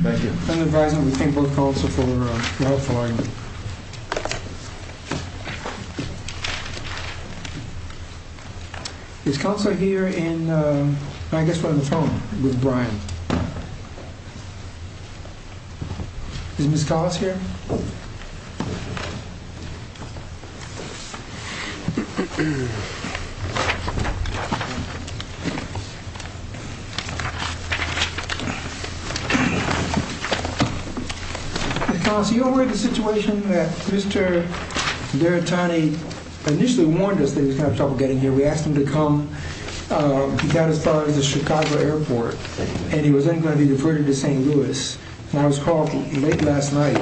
Thank you. I'm the advisor of the Pink Book Council for the House of Warren. This council is here in, I guess we're on the phone with Brian. Is Ms. Collins here? Ms. Collins, are you aware of the situation that Mr. Daritani initially warned us that he was going to have trouble getting here? We asked him to come. He got as far as the Chicago airport and he was then going to be deferred to St. Louis. And I was called late last night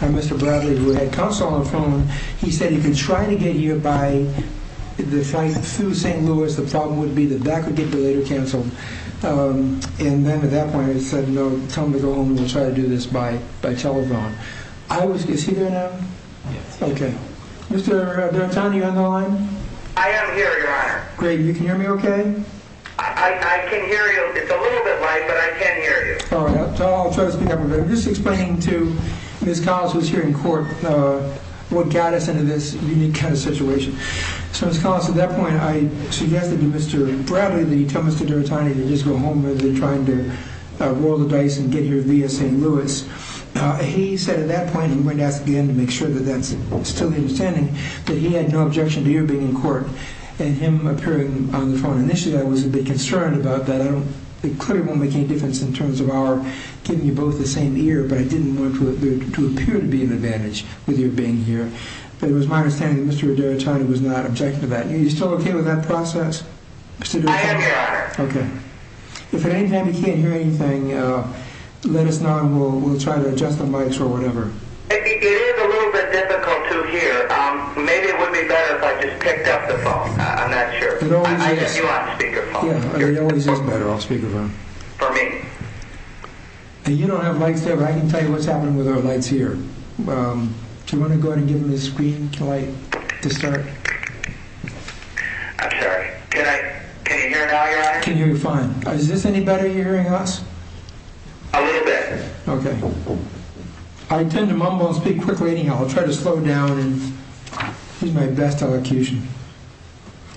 by Mr. Bradley, who had counsel on the phone. He said he could try to get here by the flight through St. Louis. The problem would be that that could get delayed or canceled. And then at that point he said, no, tell him to go home and we'll try to do this by telephone. Is he there now? Yes. Okay. Mr. Daritani, are you on the line? I am here, Your Honor. Great. You can hear me okay? I can hear you. It's a little bit light, but I can hear you. All right. I'll try to speak up a bit. Just explaining to Ms. Collins, who is here in court, what got us into this unique kind of situation. So Ms. Collins, at that point I suggested to Mr. Bradley that he tell Mr. Daritani to just go home rather than trying to roll the dice and get here via St. Louis. He said at that point, and I'm going to ask again to make sure that that's still his understanding, that he had no objection to your being in court and him appearing on the phone. Initially I was a bit concerned about that. It clearly won't make any difference in terms of our giving you both the same ear, but I didn't want there to appear to be an advantage with your being here. It was my understanding that Mr. Daritani was not objecting to that. Are you still okay with that process? I am, Your Honor. Okay. If at any time you can't hear anything, let us know and we'll try to adjust the mics or whatever. It is a little bit difficult to hear. Maybe it would be better if I just picked up the phone. I'm not sure. I have you on speakerphone. It always is better off speakerphone. For me. You don't have mics there, but I can tell you what's happening with our lights here. Do you want to go ahead and give him the screen light to start? I'm sorry. Can you hear now, Your Honor? I can hear you fine. Is this any better hearing us? A little bit. Okay. I tend to mumble and speak quickly anyhow. I'll try to slow down and use my best elocution.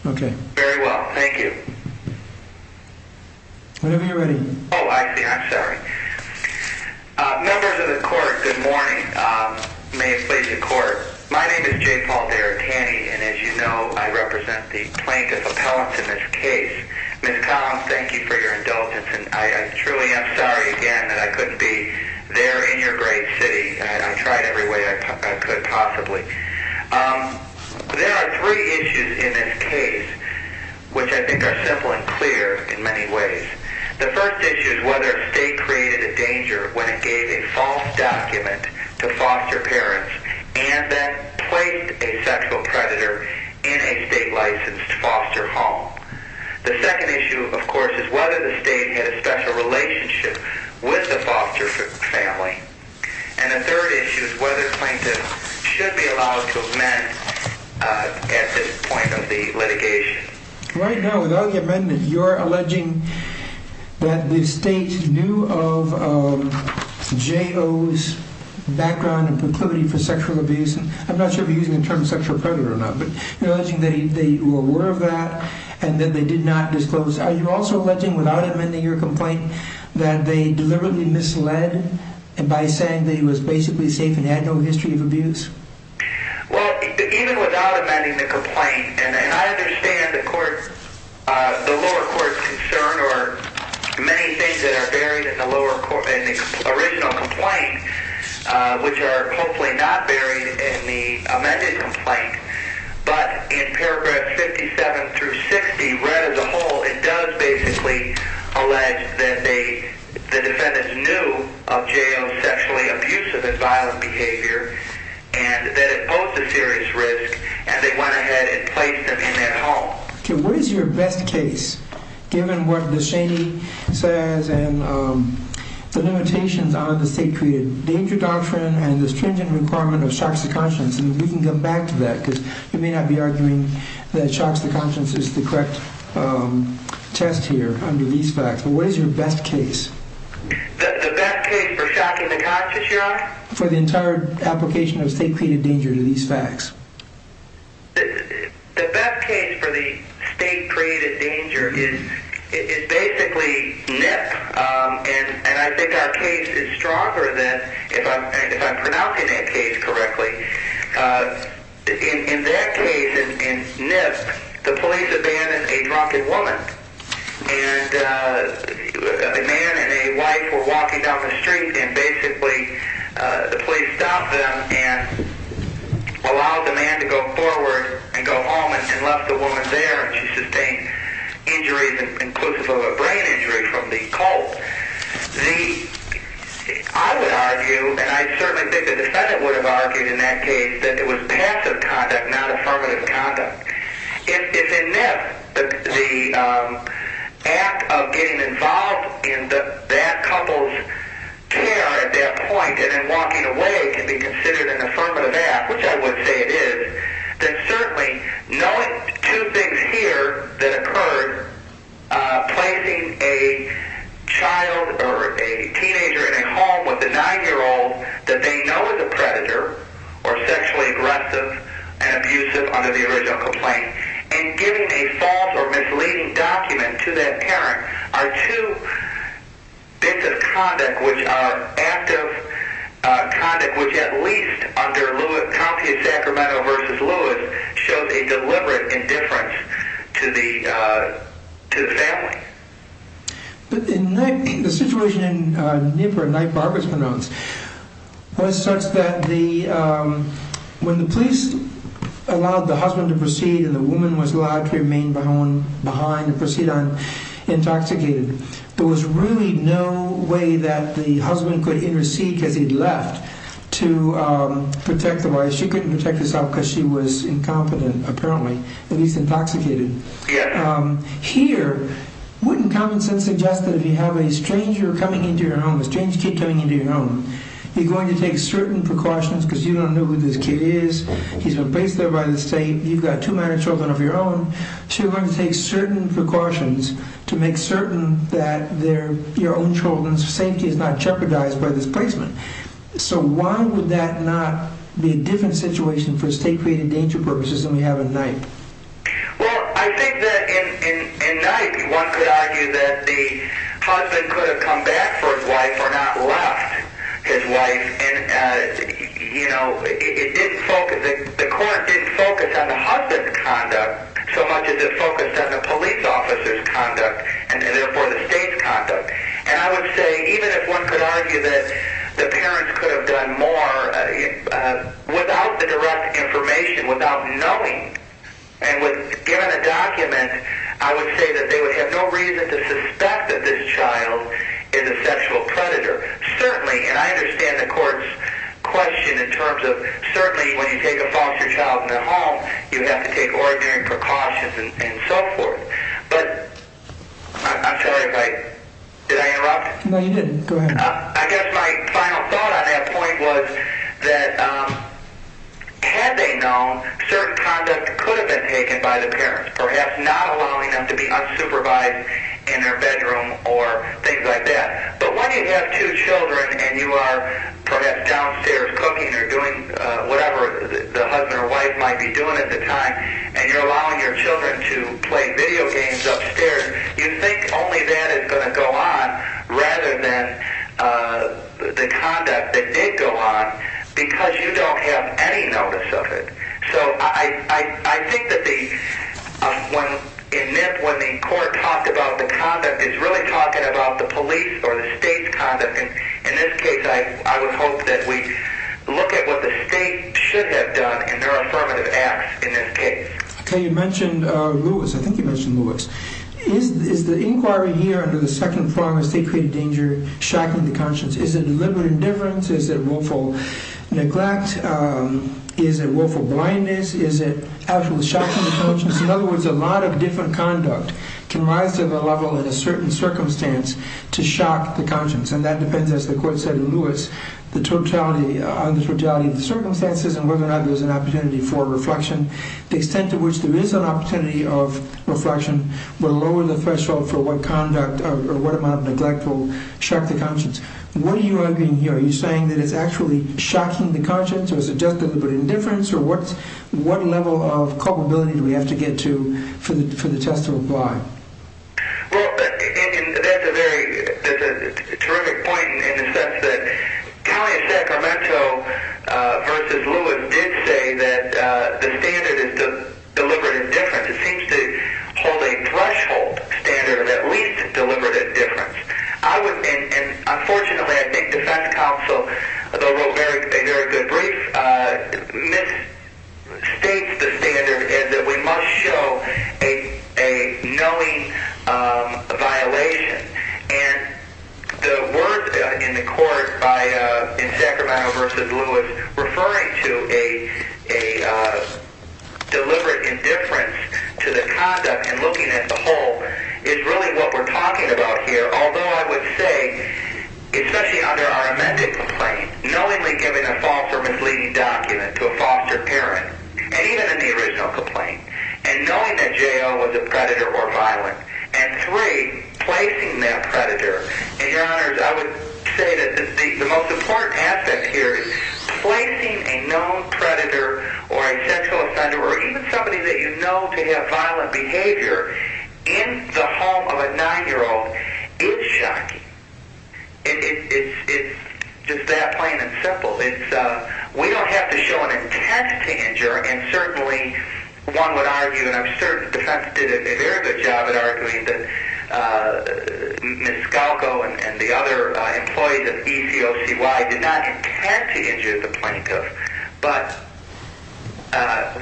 Okay. Very well. Thank you. Whenever you're ready. Oh, I see. I'm sorry. Members of the Court, good morning. May it please the Court. My name is Jay Paul Deartani, and as you know, I represent the plaintiff appellate in this case. Ms. Collins, thank you for your indulgence, and I truly am sorry again that I couldn't be there in your great city. I tried every way I could possibly. There are three issues in this case, which I think are simple and clear in many ways. The first issue is whether a state created a danger when it gave a false document to foster parents and then placed a sexual predator in a state-licensed foster home. The second issue, of course, is whether the state had a special relationship with the foster family. And the third issue is whether plaintiffs should be allowed to amend at this point of the litigation. Right now, without the amendment, you're alleging that the state knew of J.O.'s background and proclivity for sexual abuse. I'm not sure if you're using the term sexual predator or not, but you're alleging that they were aware of that and that they did not disclose. Are you also alleging, without amending your complaint, that they deliberately misled by saying that he was basically safe and had no history of abuse? Well, even without amending the complaint, and I understand the lower court's concern or many things that are buried in the original complaint, which are hopefully not buried in the amended complaint, but in paragraphs 57 through 60, read as a whole, it does basically allege that the defendants knew of J.O.'s sexually abusive and violent behavior and that it posed a serious risk, and they went ahead and placed him in that home. Okay, what is your best case, given what the Cheney says and the limitations on the state-created danger doctrine and the stringent requirement of shocks to conscience? And we can come back to that, because you may not be arguing that shocks to conscience is the correct test here under these facts. But what is your best case? The best case for shocking to conscience, Your Honor? For the entire application of state-created danger to these facts? The best case for the state-created danger is basically Nip. And I think our case is stronger than, if I'm pronouncing that case correctly. In that case, in Nip, the police abandoned a drunken woman. And a man and a wife were walking down the street, and basically the police stopped them and allowed the man to go forward and go home and left the woman there, and she sustained injuries, inclusive of a brain injury from the cold. I would argue, and I certainly think the defendant would have argued in that case, that it was passive conduct, not affirmative conduct. If in Nip, the act of getting involved in that couple's care at that point and then walking away can be considered an affirmative act, which I would say it is, then certainly knowing two things here that occurred, placing a child or a teenager in a home with a 9-year-old that they know is a predator or sexually aggressive and abusive under the original complaint, and giving a false or misleading document to that parent are two bits of conduct which are active conduct which, at least under Compu Sacramento v. Lewis, shows a deliberate indifference to the family. But in Nip, the situation in Nip where a night barber is pronounced was such that when the police allowed the husband to proceed and the woman was allowed to remain behind and proceed on intoxicated, there was really no way that the husband could intercede because he'd left to protect the wife. She couldn't protect herself because she was incompetent, apparently, at least intoxicated. Here, wouldn't common sense suggest that if you have a stranger coming into your home, a strange kid coming into your home, you're going to take certain precautions because you don't know who this kid is, he's been placed there by the state, you've got two minor children of your own, so you're going to take certain precautions to make certain that your own children's safety is not jeopardized by this placement. So why would that not be a different situation for state-created danger purposes than we have in Nip? Well, I think that in Nip, one could argue that the husband could have come back for his wife or not left his wife and, you know, it didn't focus, the court didn't focus on the husband's conduct so much as it focused on the police officer's conduct and therefore the state's conduct. And I would say even if one could argue that the parents could have done more without the direct information, without knowing, and given a document, I would say that they would have no reason to suspect that this child is a sexual predator. Certainly, and I understand the court's question in terms of, certainly when you take a foster child in the home, you have to take ordinary precautions and so forth. But, I'm sorry if I, did I interrupt? No, you didn't. Go ahead. I guess my final thought on that point was that had they known, certain conduct could have been taken by the parents, perhaps not allowing them to be unsupervised in their bedroom or things like that. But when you have two children and you are perhaps downstairs cooking or doing whatever the husband or wife might be doing at the time and you're allowing your children to play video games upstairs, you think only that is going to go on rather than the conduct that did go on because you don't have any notice of it. So, I think that when the court talked about the conduct, it's really talking about the police or the state's conduct. In this case, I would hope that we look at what the state should have done in their affirmative acts in this case. Okay, you mentioned Lewis. I think you mentioned Lewis. Is the inquiry here under the second prong of state-created danger shocking the conscience? Is it deliberate indifference? Is it willful neglect? Is it willful blindness? Is it actually shocking the conscience? In other words, a lot of different conduct can rise to the level in a certain circumstance to shock the conscience. And that depends, as the court said in Lewis, on the totality of the circumstances and whether or not there's an opportunity for reflection. The extent to which there is an opportunity of reflection will lower the threshold for what conduct or what amount of neglect will shock the conscience. What are you arguing here? Are you saying that it's actually shocking the conscience? Or is it just deliberate indifference? Or what level of culpability do we have to get to for the test to apply? Well, that's a terrific point in the sense that Talia Sacramento v. Lewis did say that the standard is deliberate indifference. It seems to hold a threshold standard of at least deliberate indifference. Unfortunately, I think the defense counsel, though wrote a very good brief, misstates the standard in that we must show a knowing violation. And the words in the court in Sacramento v. Lewis referring to a deliberate indifference to the conduct and looking at the whole is really what we're talking about here, although I would say, especially under our amended complaint, knowingly giving a false or misleading document to a foster parent, and even in the original complaint, and knowing that J.L. was a predator or violent, and three, placing that predator. And, Your Honors, I would say that the most important aspect here is placing a known predator or a sexual offender or even somebody that you know to have violent behavior in the home of a nine-year-old is shocking. It's just that plain and simple. We don't have to show an intense tanger, and certainly one would argue, and I'm certain the defense did a very good job at arguing that Ms. Scalco and the other employees of ECOCY did not intend to injure the plaintiff. But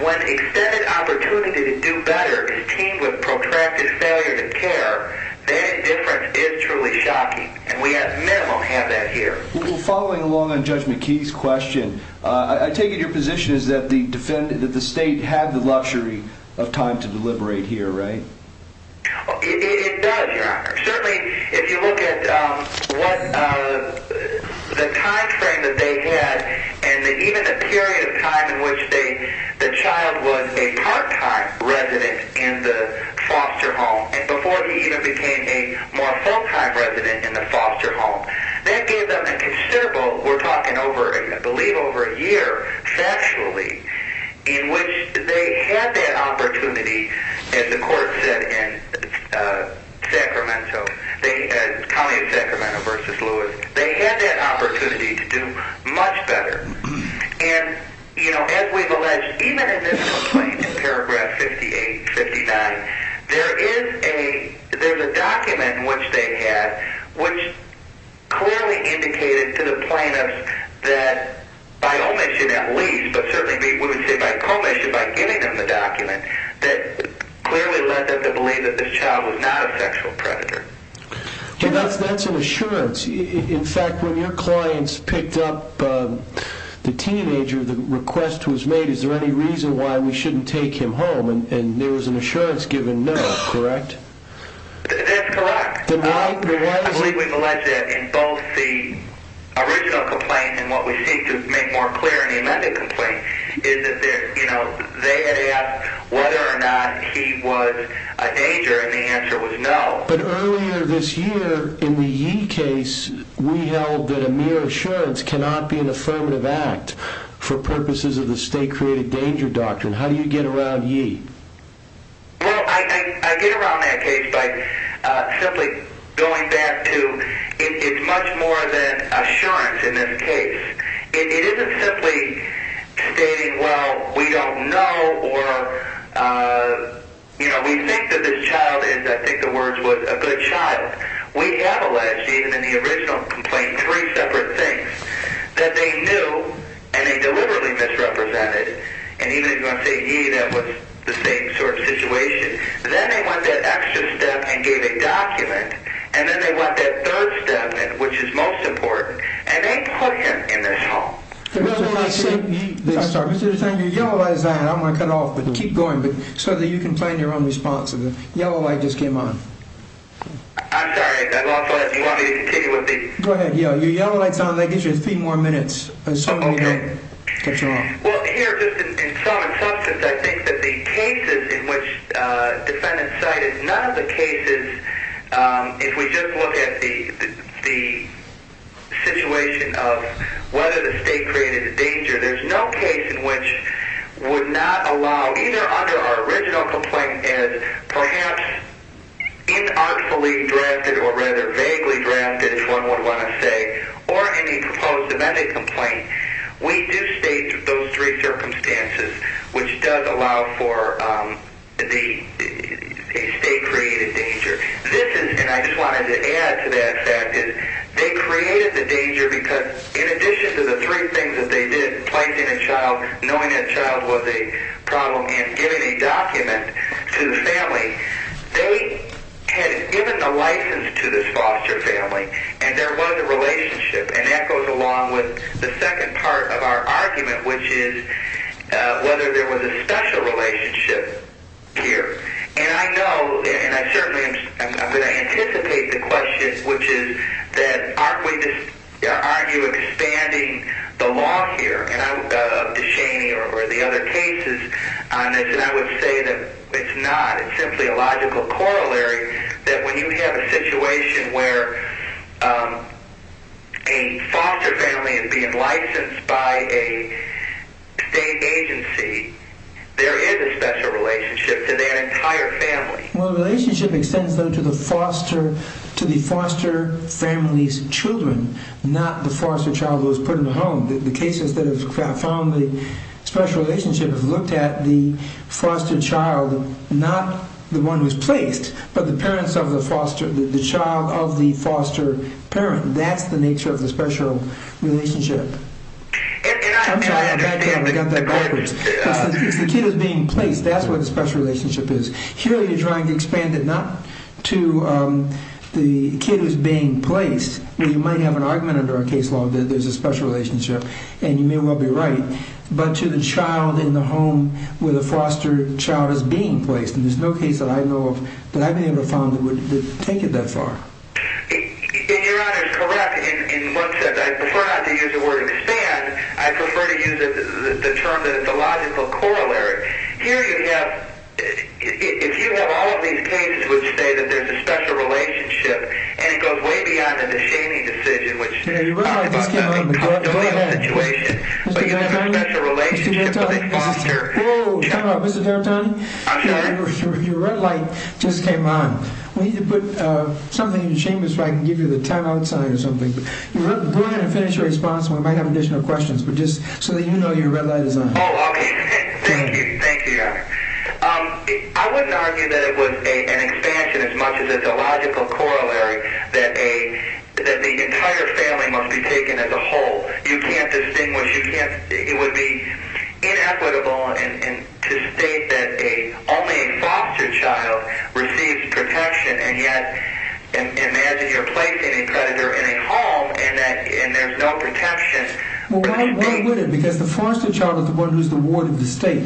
when extended opportunity to do better is teamed with protracted failure to care, that indifference is truly shocking, and we at minimum have that here. Well, following along on Judge McKee's question, I take it your position is that the state had the luxury of time to deliberate here, right? It does, Your Honor. Certainly, if you look at the time frame that they had and even the period of time in which the child was a part-time resident in the foster home and before he even became a more full-time resident in the foster home, that gave them a considerable, we're talking over, I believe, over a year, factually, in which they had that opportunity, as the court said in Sacramento, they had, call me in Sacramento versus Lewis, they had that opportunity to do much better. And, you know, as we've alleged, even in this complaint, in paragraph 58, 59, there is a document in which they had which clearly indicated to the plaintiff that, by omission at least, but certainly we would say by commission, by giving them the document, that clearly led them to believe that this child was not a sexual predator. That's an assurance. In fact, when your clients picked up the teenager, the request was made, is there any reason why we shouldn't take him home? And there was an assurance given no, correct? That's correct. I believe we've alleged that in both the original complaint and what we seek to make more clear in the amended complaint, is that they had asked whether or not he was a danger, and the answer was no. But earlier this year, in the Yee case, we held that a mere assurance cannot be an affirmative act for purposes of the state-created danger doctrine. How do you get around Yee? Well, I get around that case by simply going back to it's much more than assurance in this case. It isn't simply stating, well, we don't know or, you know, we think that this child is, I think the words was, a good child. We have alleged, even in the original complaint, three separate things. That they knew, and they deliberately misrepresented, and even if you want to say Yee, that was the same sort of situation. Then they went that extra step and gave a document, and then they went that third step, which is most important, and they put him in this home. I'm sorry, Mr. Zanger, your yellow light is on. I'm going to cut off, but keep going, so that you can find your own response. The yellow light just came on. I'm sorry, you want me to continue with the... Go ahead, Yee, your yellow light is on. That gives you three more minutes. Okay. Cut you off. Well, here, just in sum and substance, I think that the cases in which defendants cited, none of the cases, if we just look at the situation of whether the state created a danger, there's no case in which would not allow, either under our original complaint, as perhaps inartfully drafted, or rather vaguely drafted, as one would want to say, or any proposed amendment complaint. We do state those three circumstances, which does allow for a state-created danger. This is, and I just wanted to add to that fact, is they created the danger because, in addition to the three things that they did, placing a child, knowing that child was a problem, and giving a document to the family, they had given the license to this foster family, and there was a relationship, and that goes along with the second part of our argument, which is whether there was a special relationship here. And I know, and I certainly am going to anticipate the question, which is that aren't we just, aren't you expanding the law here? And I'm up to Shaney or the other cases on this, and I would say that it's not. It's simply a logical corollary that when you have a situation where a foster family is being licensed by a state agency, there is a special relationship to that entire family. Well, the relationship extends, though, to the foster family's children, not the foster child who was put in the home. The cases that have found the special relationship have looked at the foster child, not the one who's placed, but the parents of the foster, the child of the foster parent. That's the nature of the special relationship. And I understand the point. If the kid is being placed, that's where the special relationship is. Here you're trying to expand it not to the kid who's being placed. Well, you might have an argument under our case law that there's a special relationship, and you may well be right, but to the child in the home where the foster child is being placed. And there's no case that I know of that I've ever found that would take it that far. And Your Honor is correct in one sense. I prefer not to use the word expand. I prefer to use the term that it's a logical corollary. Here you have, if you have all of these cases which say that there's a special relationship and it goes way beyond the shaming decision, which is probably about nothing. Don't do that. But you have a special relationship with a foster. Whoa, time out. Mr. D'Antoni? I'm sorry? Your red light just came on. We need to put something in the chambers so I can give you the time out sign or something. But go ahead and finish your response, and we might have additional questions, but just so that you know your red light is on. Oh, okay. Thank you. Thank you, Your Honor. I wouldn't argue that it was an expansion as much as it's a logical corollary that the entire family must be taken as a whole. You can't distinguish. It would be inequitable to state that only a foster child receives protection, and yet imagine you're placing a predator in a home and there's no protection. Well, why would it? Because the foster child is the one who's the ward of the state.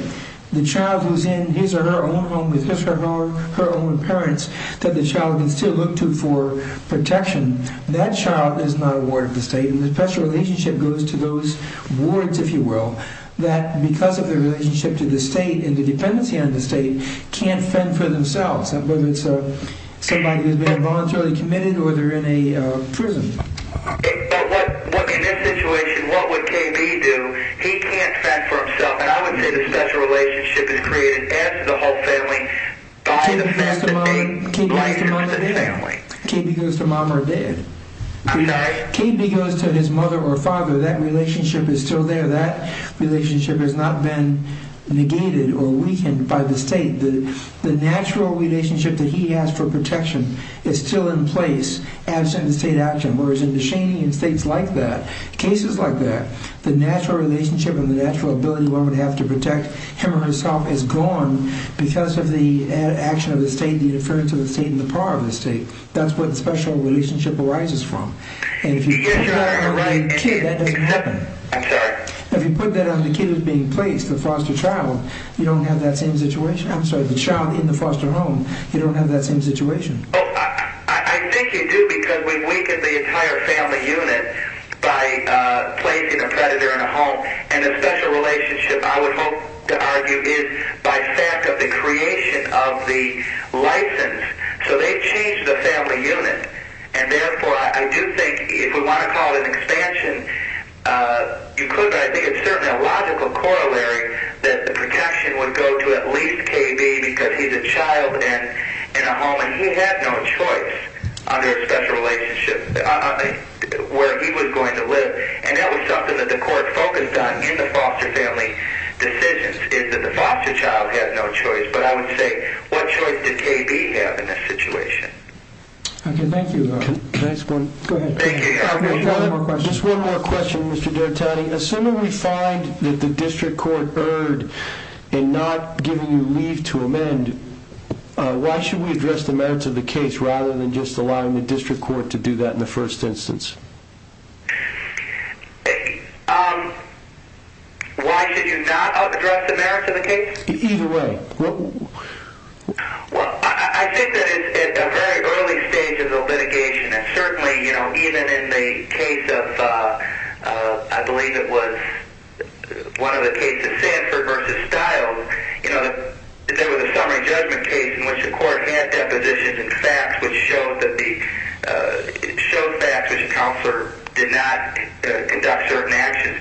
The child who's in his or her own home with his or her own parents that the child can still look to for protection. That child is not a ward of the state, and the special relationship goes to those wards, if you will, that because of their relationship to the state and the dependency on the state, can't fend for themselves, whether it's somebody who's been involuntarily committed or they're in a prison. But in this situation, what would KB do? He can't fend for himself. And I would say the special relationship is created as the whole family. KB goes to mom or dad. KB goes to mom or dad. KB goes to his mother or father. That relationship is still there. That relationship has not been negated or weakened by the state. The natural relationship that he has for protection is still in place, absent the state action, whereas in Deshaney and states like that, the natural relationship and the natural ability one would have to protect him or herself is gone because of the action of the state, the interference of the state, and the power of the state. That's what the special relationship arises from. And if you put that on the kid, that doesn't happen. I'm sorry? If you put that on the kid who's being placed, the foster child, you don't have that same situation. I'm sorry, the child in the foster home, you don't have that same situation. Oh, I think you do because we've weakened the entire family unit by placing a predator in a home. And the special relationship, I would hope to argue, is by fact of the creation of the license. So they've changed the family unit. And, therefore, I do think if we want to call it an expansion, you could, but I think it's certainly a logical corollary that the protection would go to at least KB because he's a child in a home and he had no choice under a special relationship where he was going to live. And that was something that the court focused on in the foster family decisions is that the foster child had no choice. But I would say what choice did KB have in this situation? Okay, thank you. Thanks, Gordon. Go ahead. Thank you. Just one more question, Mr. Dertani. Assuming we find that the district court erred in not giving you leave to amend, why should we address the merits of the case rather than just allowing the district court to do that in the first instance? Why should you not address the merits of the case? Either way. Well, I think that it's at a very early stage of the litigation and certainly even in the case of, I believe it was one of the cases, Sanford v. Stiles, there was a summary judgment case in which the court had depositions and facts which showed facts which a counselor did not conduct certain actions.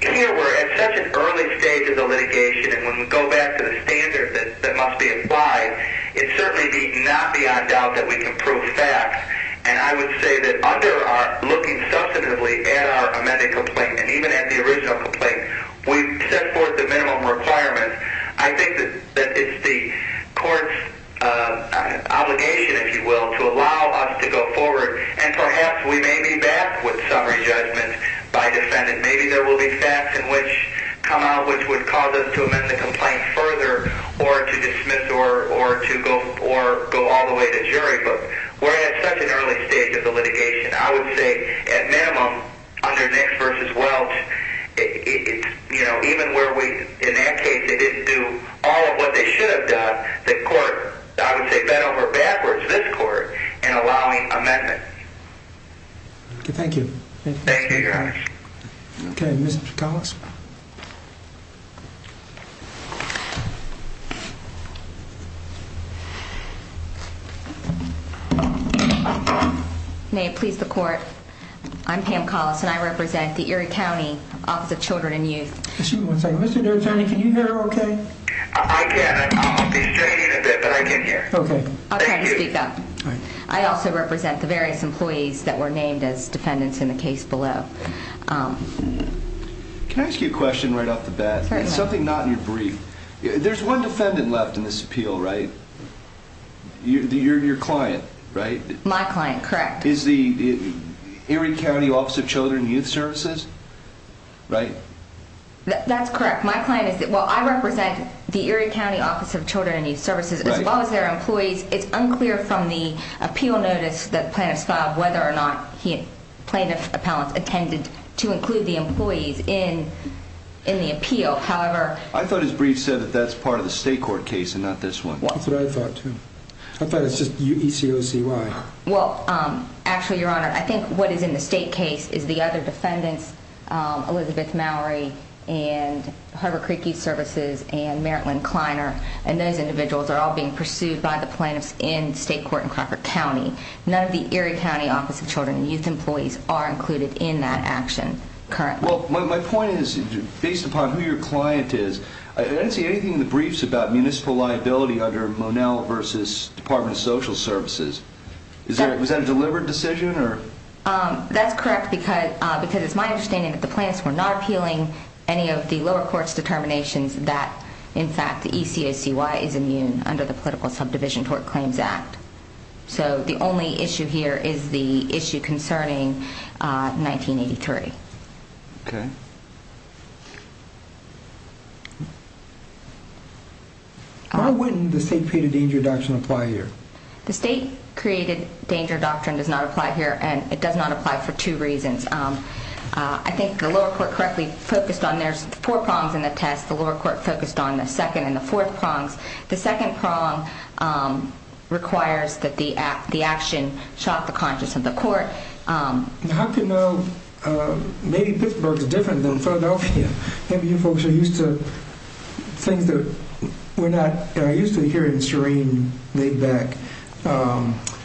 Here we're at such an early stage of the litigation and when we go back to the standard that must be applied, it's certainly not beyond doubt that we can prove facts. And I would say that under our looking substantively at our amended complaint and even at the original complaint, we've set forth the minimum requirements. I think that it's the court's obligation, if you will, to allow us to go forward and perhaps we may be back with summary judgment by defendant. Maybe there will be facts in which come out which would cause us to amend the complaint further or to dismiss or to go all the way to jury. But we're at such an early stage of the litigation. I would say, at minimum, under Nix v. Welch, even where we, in that case, they didn't do all of what they should have done, the court, I would say, bent over backwards, this court, in allowing amendments. Thank you. Thank you, Your Honor. Okay, Mr. Collins. May it please the court, I'm Pam Collins, and I represent the Erie County Office of Children and Youth. Excuse me one second. Mr. D'Artagnan, can you hear her okay? I can. I'll be straight in a bit, but I can hear. Okay. Thank you. I'll try to speak up. Okay. Thank you. Can I ask you a question right off the bat? Certainly. Something not in your brief. There's one defendant left in this appeal, right? Your client, right? My client, correct. Is the Erie County Office of Children and Youth Services, right? That's correct. Well, I represent the Erie County Office of Children and Youth Services. As well as their employees. It's unclear from the appeal notice that the plaintiff filed whether or not plaintiff appellants attended to include the employees in the appeal. However, I thought his brief said that that's part of the state court case and not this one. That's what I thought, too. I thought it was just E-C-O-C-Y. Well, actually, Your Honor, I think what is in the state case is the other defendants, Elizabeth Mallory and Harbor Creek Youth Services and Merit Lynn Kleiner, and those individuals are all being pursued by the plaintiffs in state court in Crocker County. None of the Erie County Office of Children and Youth Employees are included in that action currently. Well, my point is, based upon who your client is, I didn't see anything in the briefs about municipal liability under Monell v. Department of Social Services. Was that a deliberate decision? That's correct because it's my understanding that the plaintiffs were not appealing any of the lower court's determinations that, in fact, the E-C-O-C-Y is immune under the Political Subdivision Tort Claims Act. So the only issue here is the issue concerning 1983. Okay. How would the state-created danger doctrine apply here? The state-created danger doctrine does not apply here, and it does not apply for two reasons. I think the lower court correctly focused on their four prongs in the test. The lower court focused on the second and the fourth prongs. The second prong requires that the action shock the conscience of the court. Now, how do you know? Maybe Pittsburgh is different than Philadelphia. Maybe you folks are used to things that we're not. I used to hear it in serene, laid-back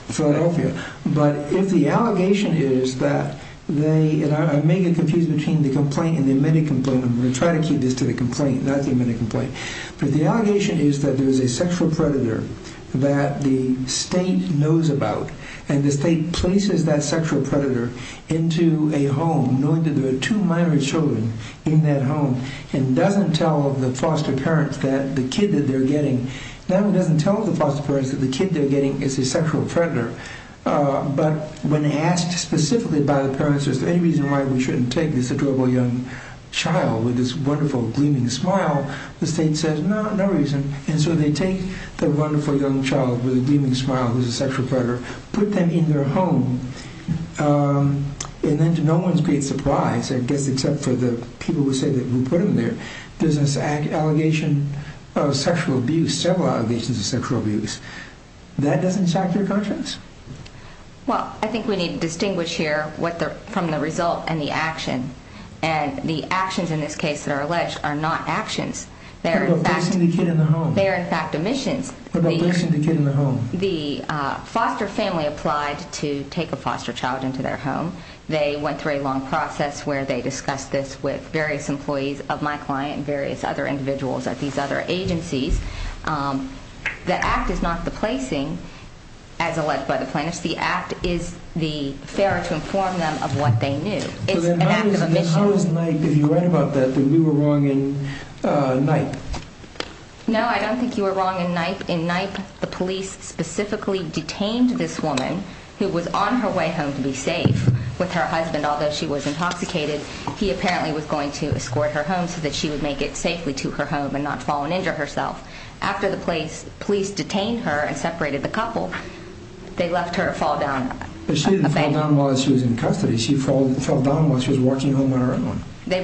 Philadelphia. But if the allegation is that they, and I may get confused between the complaint and the admitted complaint. I'm going to try to keep this to the complaint, not the admitted complaint. But the allegation is that there is a sexual predator that the state knows about, and the state places that sexual predator into a home knowing that there are two minor children in that home and doesn't tell the foster parents that the kid that they're getting, not only doesn't tell the foster parents that the kid they're getting is a sexual predator, but when asked specifically by the parents if there's any reason why we shouldn't take this adorable young child with this wonderful, gleaming smile, the state says, no, no reason. And so they take the wonderful young child with a gleaming smile who's a sexual predator, put them in their home, and then to no one's great surprise, I guess except for the people who say that we put them there, there's an allegation of sexual abuse, several allegations of sexual abuse. That doesn't shock your conscience? Well, I think we need to distinguish here from the result and the action. And the actions in this case that are alleged are not actions. They're in fact omissions. What about placing the kid in the home? The foster family applied to take a foster child into their home. They went through a long process where they discussed this with various employees of my client and various other individuals at these other agencies. The act is not the placing as alleged by the plaintiffs. The act is the fairer to inform them of what they knew. It's an act of omission. How is NYPE, if you write about that, that we were wrong in NYPE? No, I don't think you were wrong in NYPE. In NYPE, the police specifically detained this woman who was on her way home to be safe with her husband. Although she was intoxicated, he apparently was going to escort her home so that she would make it safely to her home and not fall and injure herself. After the police detained her and separated the couple, they left her to fall down a bank. But she didn't fall down while she was in custody. She fell down while she was walking home on her own. They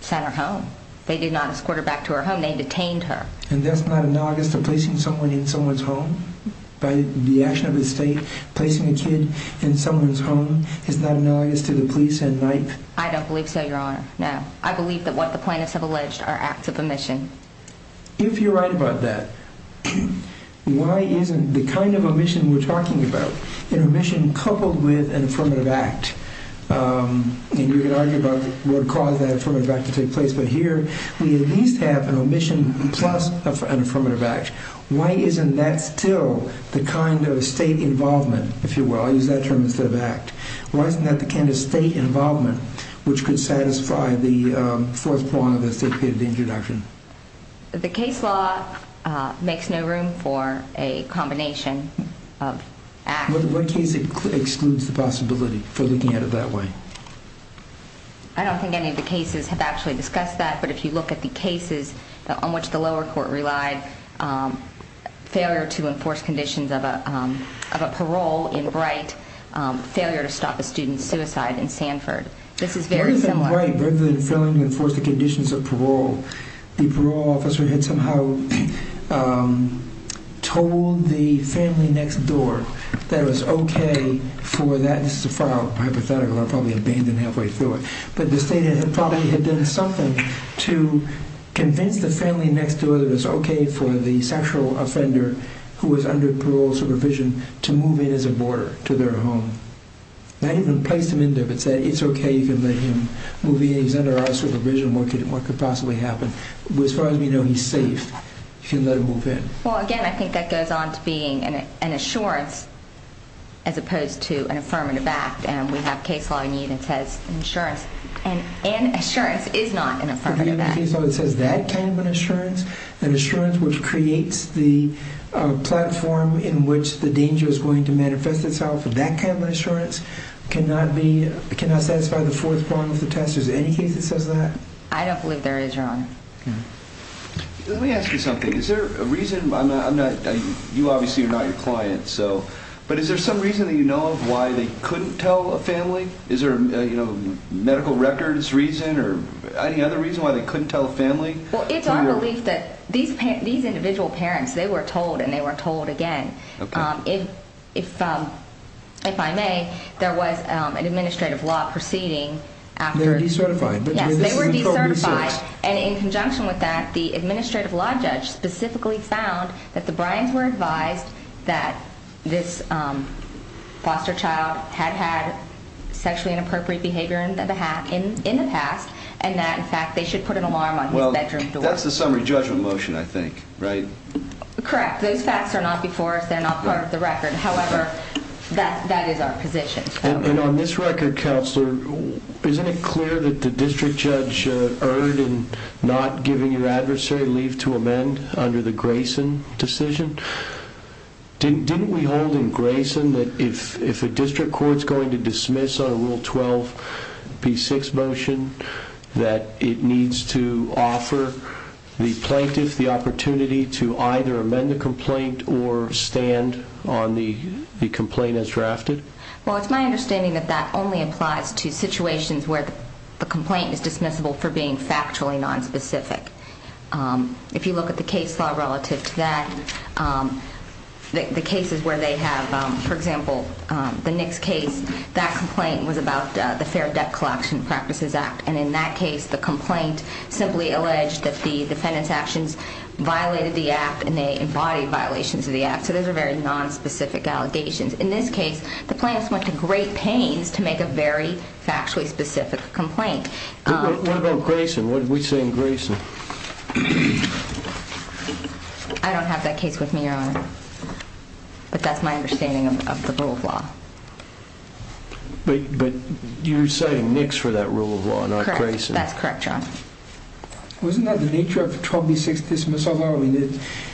sent her home. They did not escort her back to her home. They detained her. And that's not analogous to placing someone in someone's home? By the action of the state, placing a kid in someone's home is not analogous to the police and NYPE? I don't believe so, Your Honor, no. I believe that what the plaintiffs have alleged are acts of omission. If you're right about that, why isn't the kind of omission we're talking about, an omission coupled with an affirmative act, and you can argue about what caused that affirmative act to take place, but here we at least have an omission plus an affirmative act. Why isn't that still the kind of state involvement, if you will? I'll use that term instead of act. Why isn't that the kind of state involvement which could satisfy the fourth point of the State Petity Injury Action? The case law makes no room for a combination of acts. What case excludes the possibility for looking at it that way? I don't think any of the cases have actually discussed that, but if you look at the cases on which the lower court relied, failure to enforce conditions of a parole in Bright, failure to stop a student's suicide in Sanford. This is very similar. In Bright, rather than failing to enforce the conditions of parole, the parole officer had somehow told the family next door that it was okay for that, this is a hypothetical, I'll probably abandon halfway through it, but the state had probably done something to convince the family next door that it was okay for the sexual offender who was under parole supervision to move in as a boarder to their home. They hadn't even placed him in there, but said it's okay, you can let him move in, he's under our supervision, what could possibly happen? As far as we know, he's safe, you can let him move in. Again, I think that goes on to being an assurance as opposed to an affirmative act. We have case law in the unit that says an assurance, and an assurance is not an affirmative act. The case law that says that kind of an assurance, an assurance which creates the platform in which the danger is going to manifest itself, that kind of an assurance cannot satisfy the fourth prong of the test. Is there any case that says that? I don't believe there is, Your Honor. Let me ask you something. Is there a reason, you obviously are not your client, but is there some reason that you know of why they couldn't tell a family? Is there a medical records reason or any other reason why they couldn't tell a family? It's our belief that these individual parents, they were told and they were told again. If I may, there was an administrative law proceeding after. They were decertified. Yes, they were decertified, and in conjunction with that, the administrative law judge specifically found that the Bryans were advised that this foster child had had sexually inappropriate behavior in the past, and that, in fact, they should put an alarm on his bedroom door. That's the summary judgment motion, I think, right? Correct. Those facts are not before us. They're not part of the record. However, that is our position. And on this record, Counselor, isn't it clear that the district judge erred in not giving your adversary leave to amend under the Grayson decision? Didn't we hold in Grayson that if a district court is going to dismiss on a Rule 12b6 motion that it needs to offer the plaintiff the opportunity to either amend the complaint or stand on the complaint as drafted? Well, it's my understanding that that only applies to situations where the complaint is dismissible for being factually nonspecific. If you look at the case law relative to that, the cases where they have, for example, the Nicks case, that complaint was about the Fair Debt Collection Practices Act. And in that case, the complaint simply alleged that the defendant's actions violated the act and they embodied violations of the act. So those are very nonspecific allegations. In this case, the plaintiff went to great pains to make a very factually specific complaint. What about Grayson? What did we say in Grayson? I don't have that case with me, Your Honor. But that's my understanding of the rule of law. But you're citing Nicks for that rule of law, not Grayson. Correct. That's correct, Your Honor. Wasn't that the nature of the 12b6 dismissal law?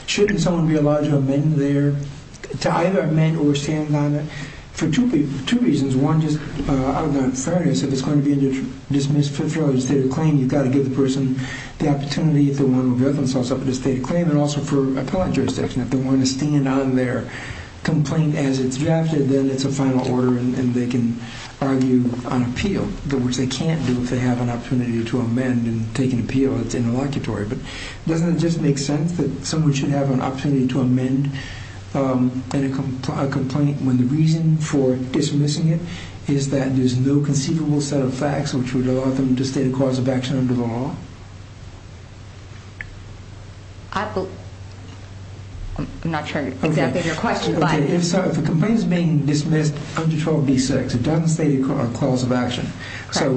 Shouldn't someone be allowed to amend there? To either amend or stand on it? For two reasons. One, just out of fairness, if it's going to be dismissed for a state of claim, you've got to give the person the opportunity to want to revoke themselves for a state of claim and also for appellate jurisdiction. If they want to stand on their complaint as it's drafted, then it's a final order and they can argue on appeal, which they can't do if they have an opportunity to amend and take an appeal that's interlocutory. But doesn't it just make sense that someone should have an opportunity to amend a complaint when the reason for dismissing it is that there's no conceivable set of facts which would allow them to state a cause of action under the law? I'm not sure exactly your question, but... If a complaint is being dismissed under 12b6, it doesn't state a cause of action. So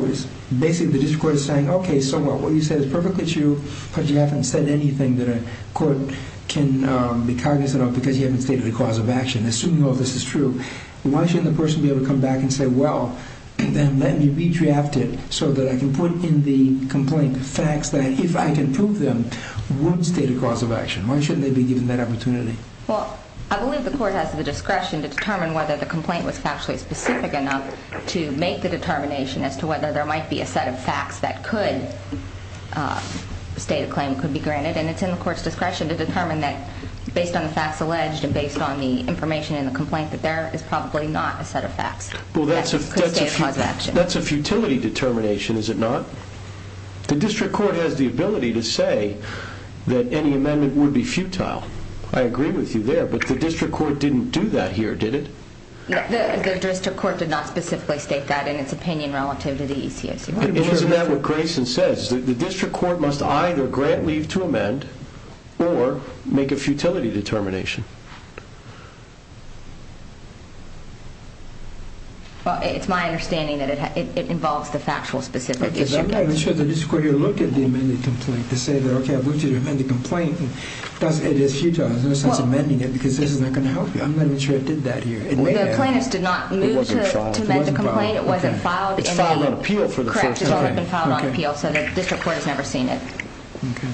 basically the district court is saying, okay, so what you said is perfectly true, but you haven't said anything that a court can be cognizant of because you haven't stated a cause of action. Assuming all this is true, why shouldn't the person be able to come back and say, well, then let me redraft it so that I can put in the complaint facts that if I can prove them, would state a cause of action? Why shouldn't they be given that opportunity? Well, I believe the court has the discretion to determine whether the complaint was factually specific enough to make the determination as to whether there might be a set of facts that could state a claim, could be granted, and it's in the court's discretion to determine that based on the facts alleged and based on the information in the complaint that there is probably not a set of facts. Well, that's a futility determination, is it not? The district court has the ability to say that any amendment would be futile. I agree with you there, but the district court didn't do that here, did it? The district court did not specifically state that in its opinion relative to the ECIC. Isn't that what Grayson says? The district court must either grant leave to amend or make a futility determination. Well, it's my understanding that it involves the factual specific issue. I'm not even sure the district court here looked at the amended complaint to say that, okay, I've looked at the amended complaint and it is futile. There's no sense in amending it because this is not going to help you. I'm not even sure it did that here. The plaintiffs did not move to amend the complaint. It wasn't filed. It's filed on appeal for the first time. It's not been filed on appeal, so the district court has never seen it. Okay.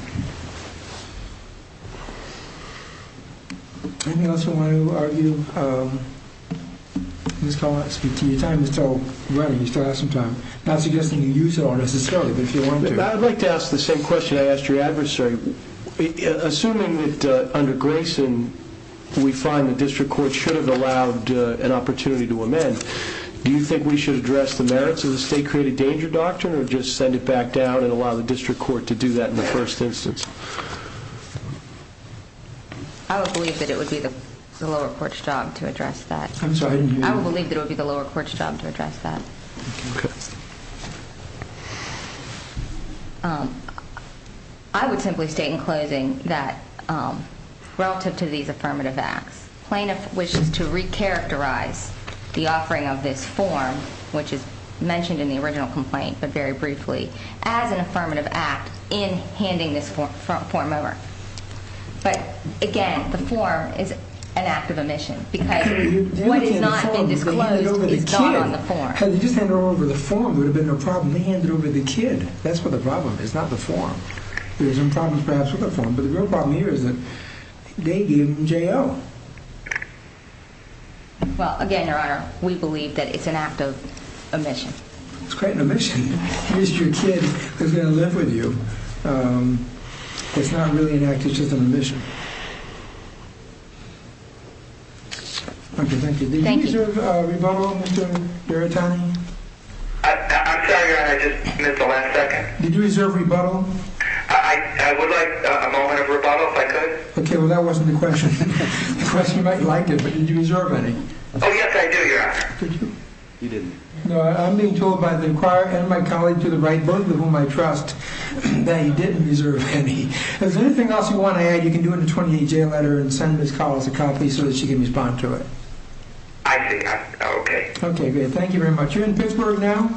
Anything else you want to argue? Ms. Collins, your time is still running. You still have some time. I'm not suggesting you use it unnecessarily, but if you want to. I'd like to ask the same question I asked your adversary. Assuming that under Grayson we find the district court should have allowed an opportunity to amend, do you think we should address the merits of the state created danger doctrine or just send it back down and allow the district court to do that in the first instance? I would believe that it would be the lower court's job to address that. I'm sorry, I didn't hear you. I would believe that it would be the lower court's job to address that. Okay. I would simply state in closing that relative to these affirmative acts, this plaintiff wishes to recharacterize the offering of this form, which is mentioned in the original complaint but very briefly, as an affirmative act in handing this form over. But, again, the form is an act of omission because what has not been disclosed is not on the form. If they just handed it over in the form, there would have been no problem. They handed it over to the kid. That's what the problem is, not the form. There's some problems perhaps with the form, but the real problem here is that they gave him J.O. Well, again, Your Honor, we believe that it's an act of omission. It's quite an omission. You missed your kid who's going to live with you. It's not really an act. It's just an omission. Okay, thank you. Thank you. Did you reserve rebuttal, Mr. Berrettani? I'm sorry, Your Honor, I just missed the last second. Did you reserve rebuttal? I would like a moment of rebuttal, if I could. Okay, well, that wasn't the question. The question might have liked it, but did you reserve any? Oh, yes, I do, Your Honor. Did you? You didn't. No, I'm being told by the inquirer and my colleague to the right book, with whom I trust, that he didn't reserve any. If there's anything else you want to add, you can do it in a 28-J letter and send Ms. Collins a copy so that she can respond to it. I see. Okay. Okay, good. Thank you very much. You're in Pittsburgh now?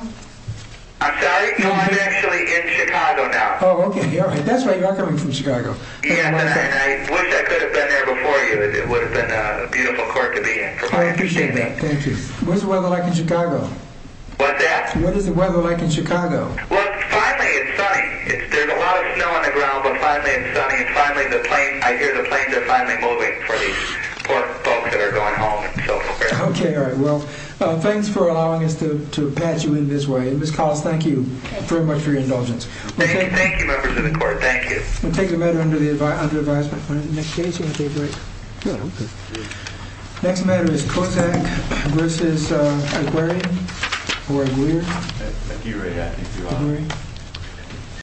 I'm sorry? No, I'm actually in Chicago now. Oh, okay, all right. That's why you are coming from Chicago. Yes, and I wish I could have been there before you. It would have been a beautiful court to be in. I appreciate that. Thank you. What is the weather like in Chicago? What's that? What is the weather like in Chicago? Well, finally it's sunny. There's a lot of snow on the ground, but finally it's sunny. And finally the planes, I hear the planes are finally moving for the poor folks that are going home and so forth. Okay, all right. Well, thanks for allowing us to pat you in this way. Ms. Collins, thank you very much for your indulgence. Thank you. Thank you, members of the court. Thank you. We'll take a vote under the advisement. Next case, you want to take a break? No, I'm good. Next matter is Kotak versus Aguirre or Aguirre? Aguirre. Aguirre. Aguirre.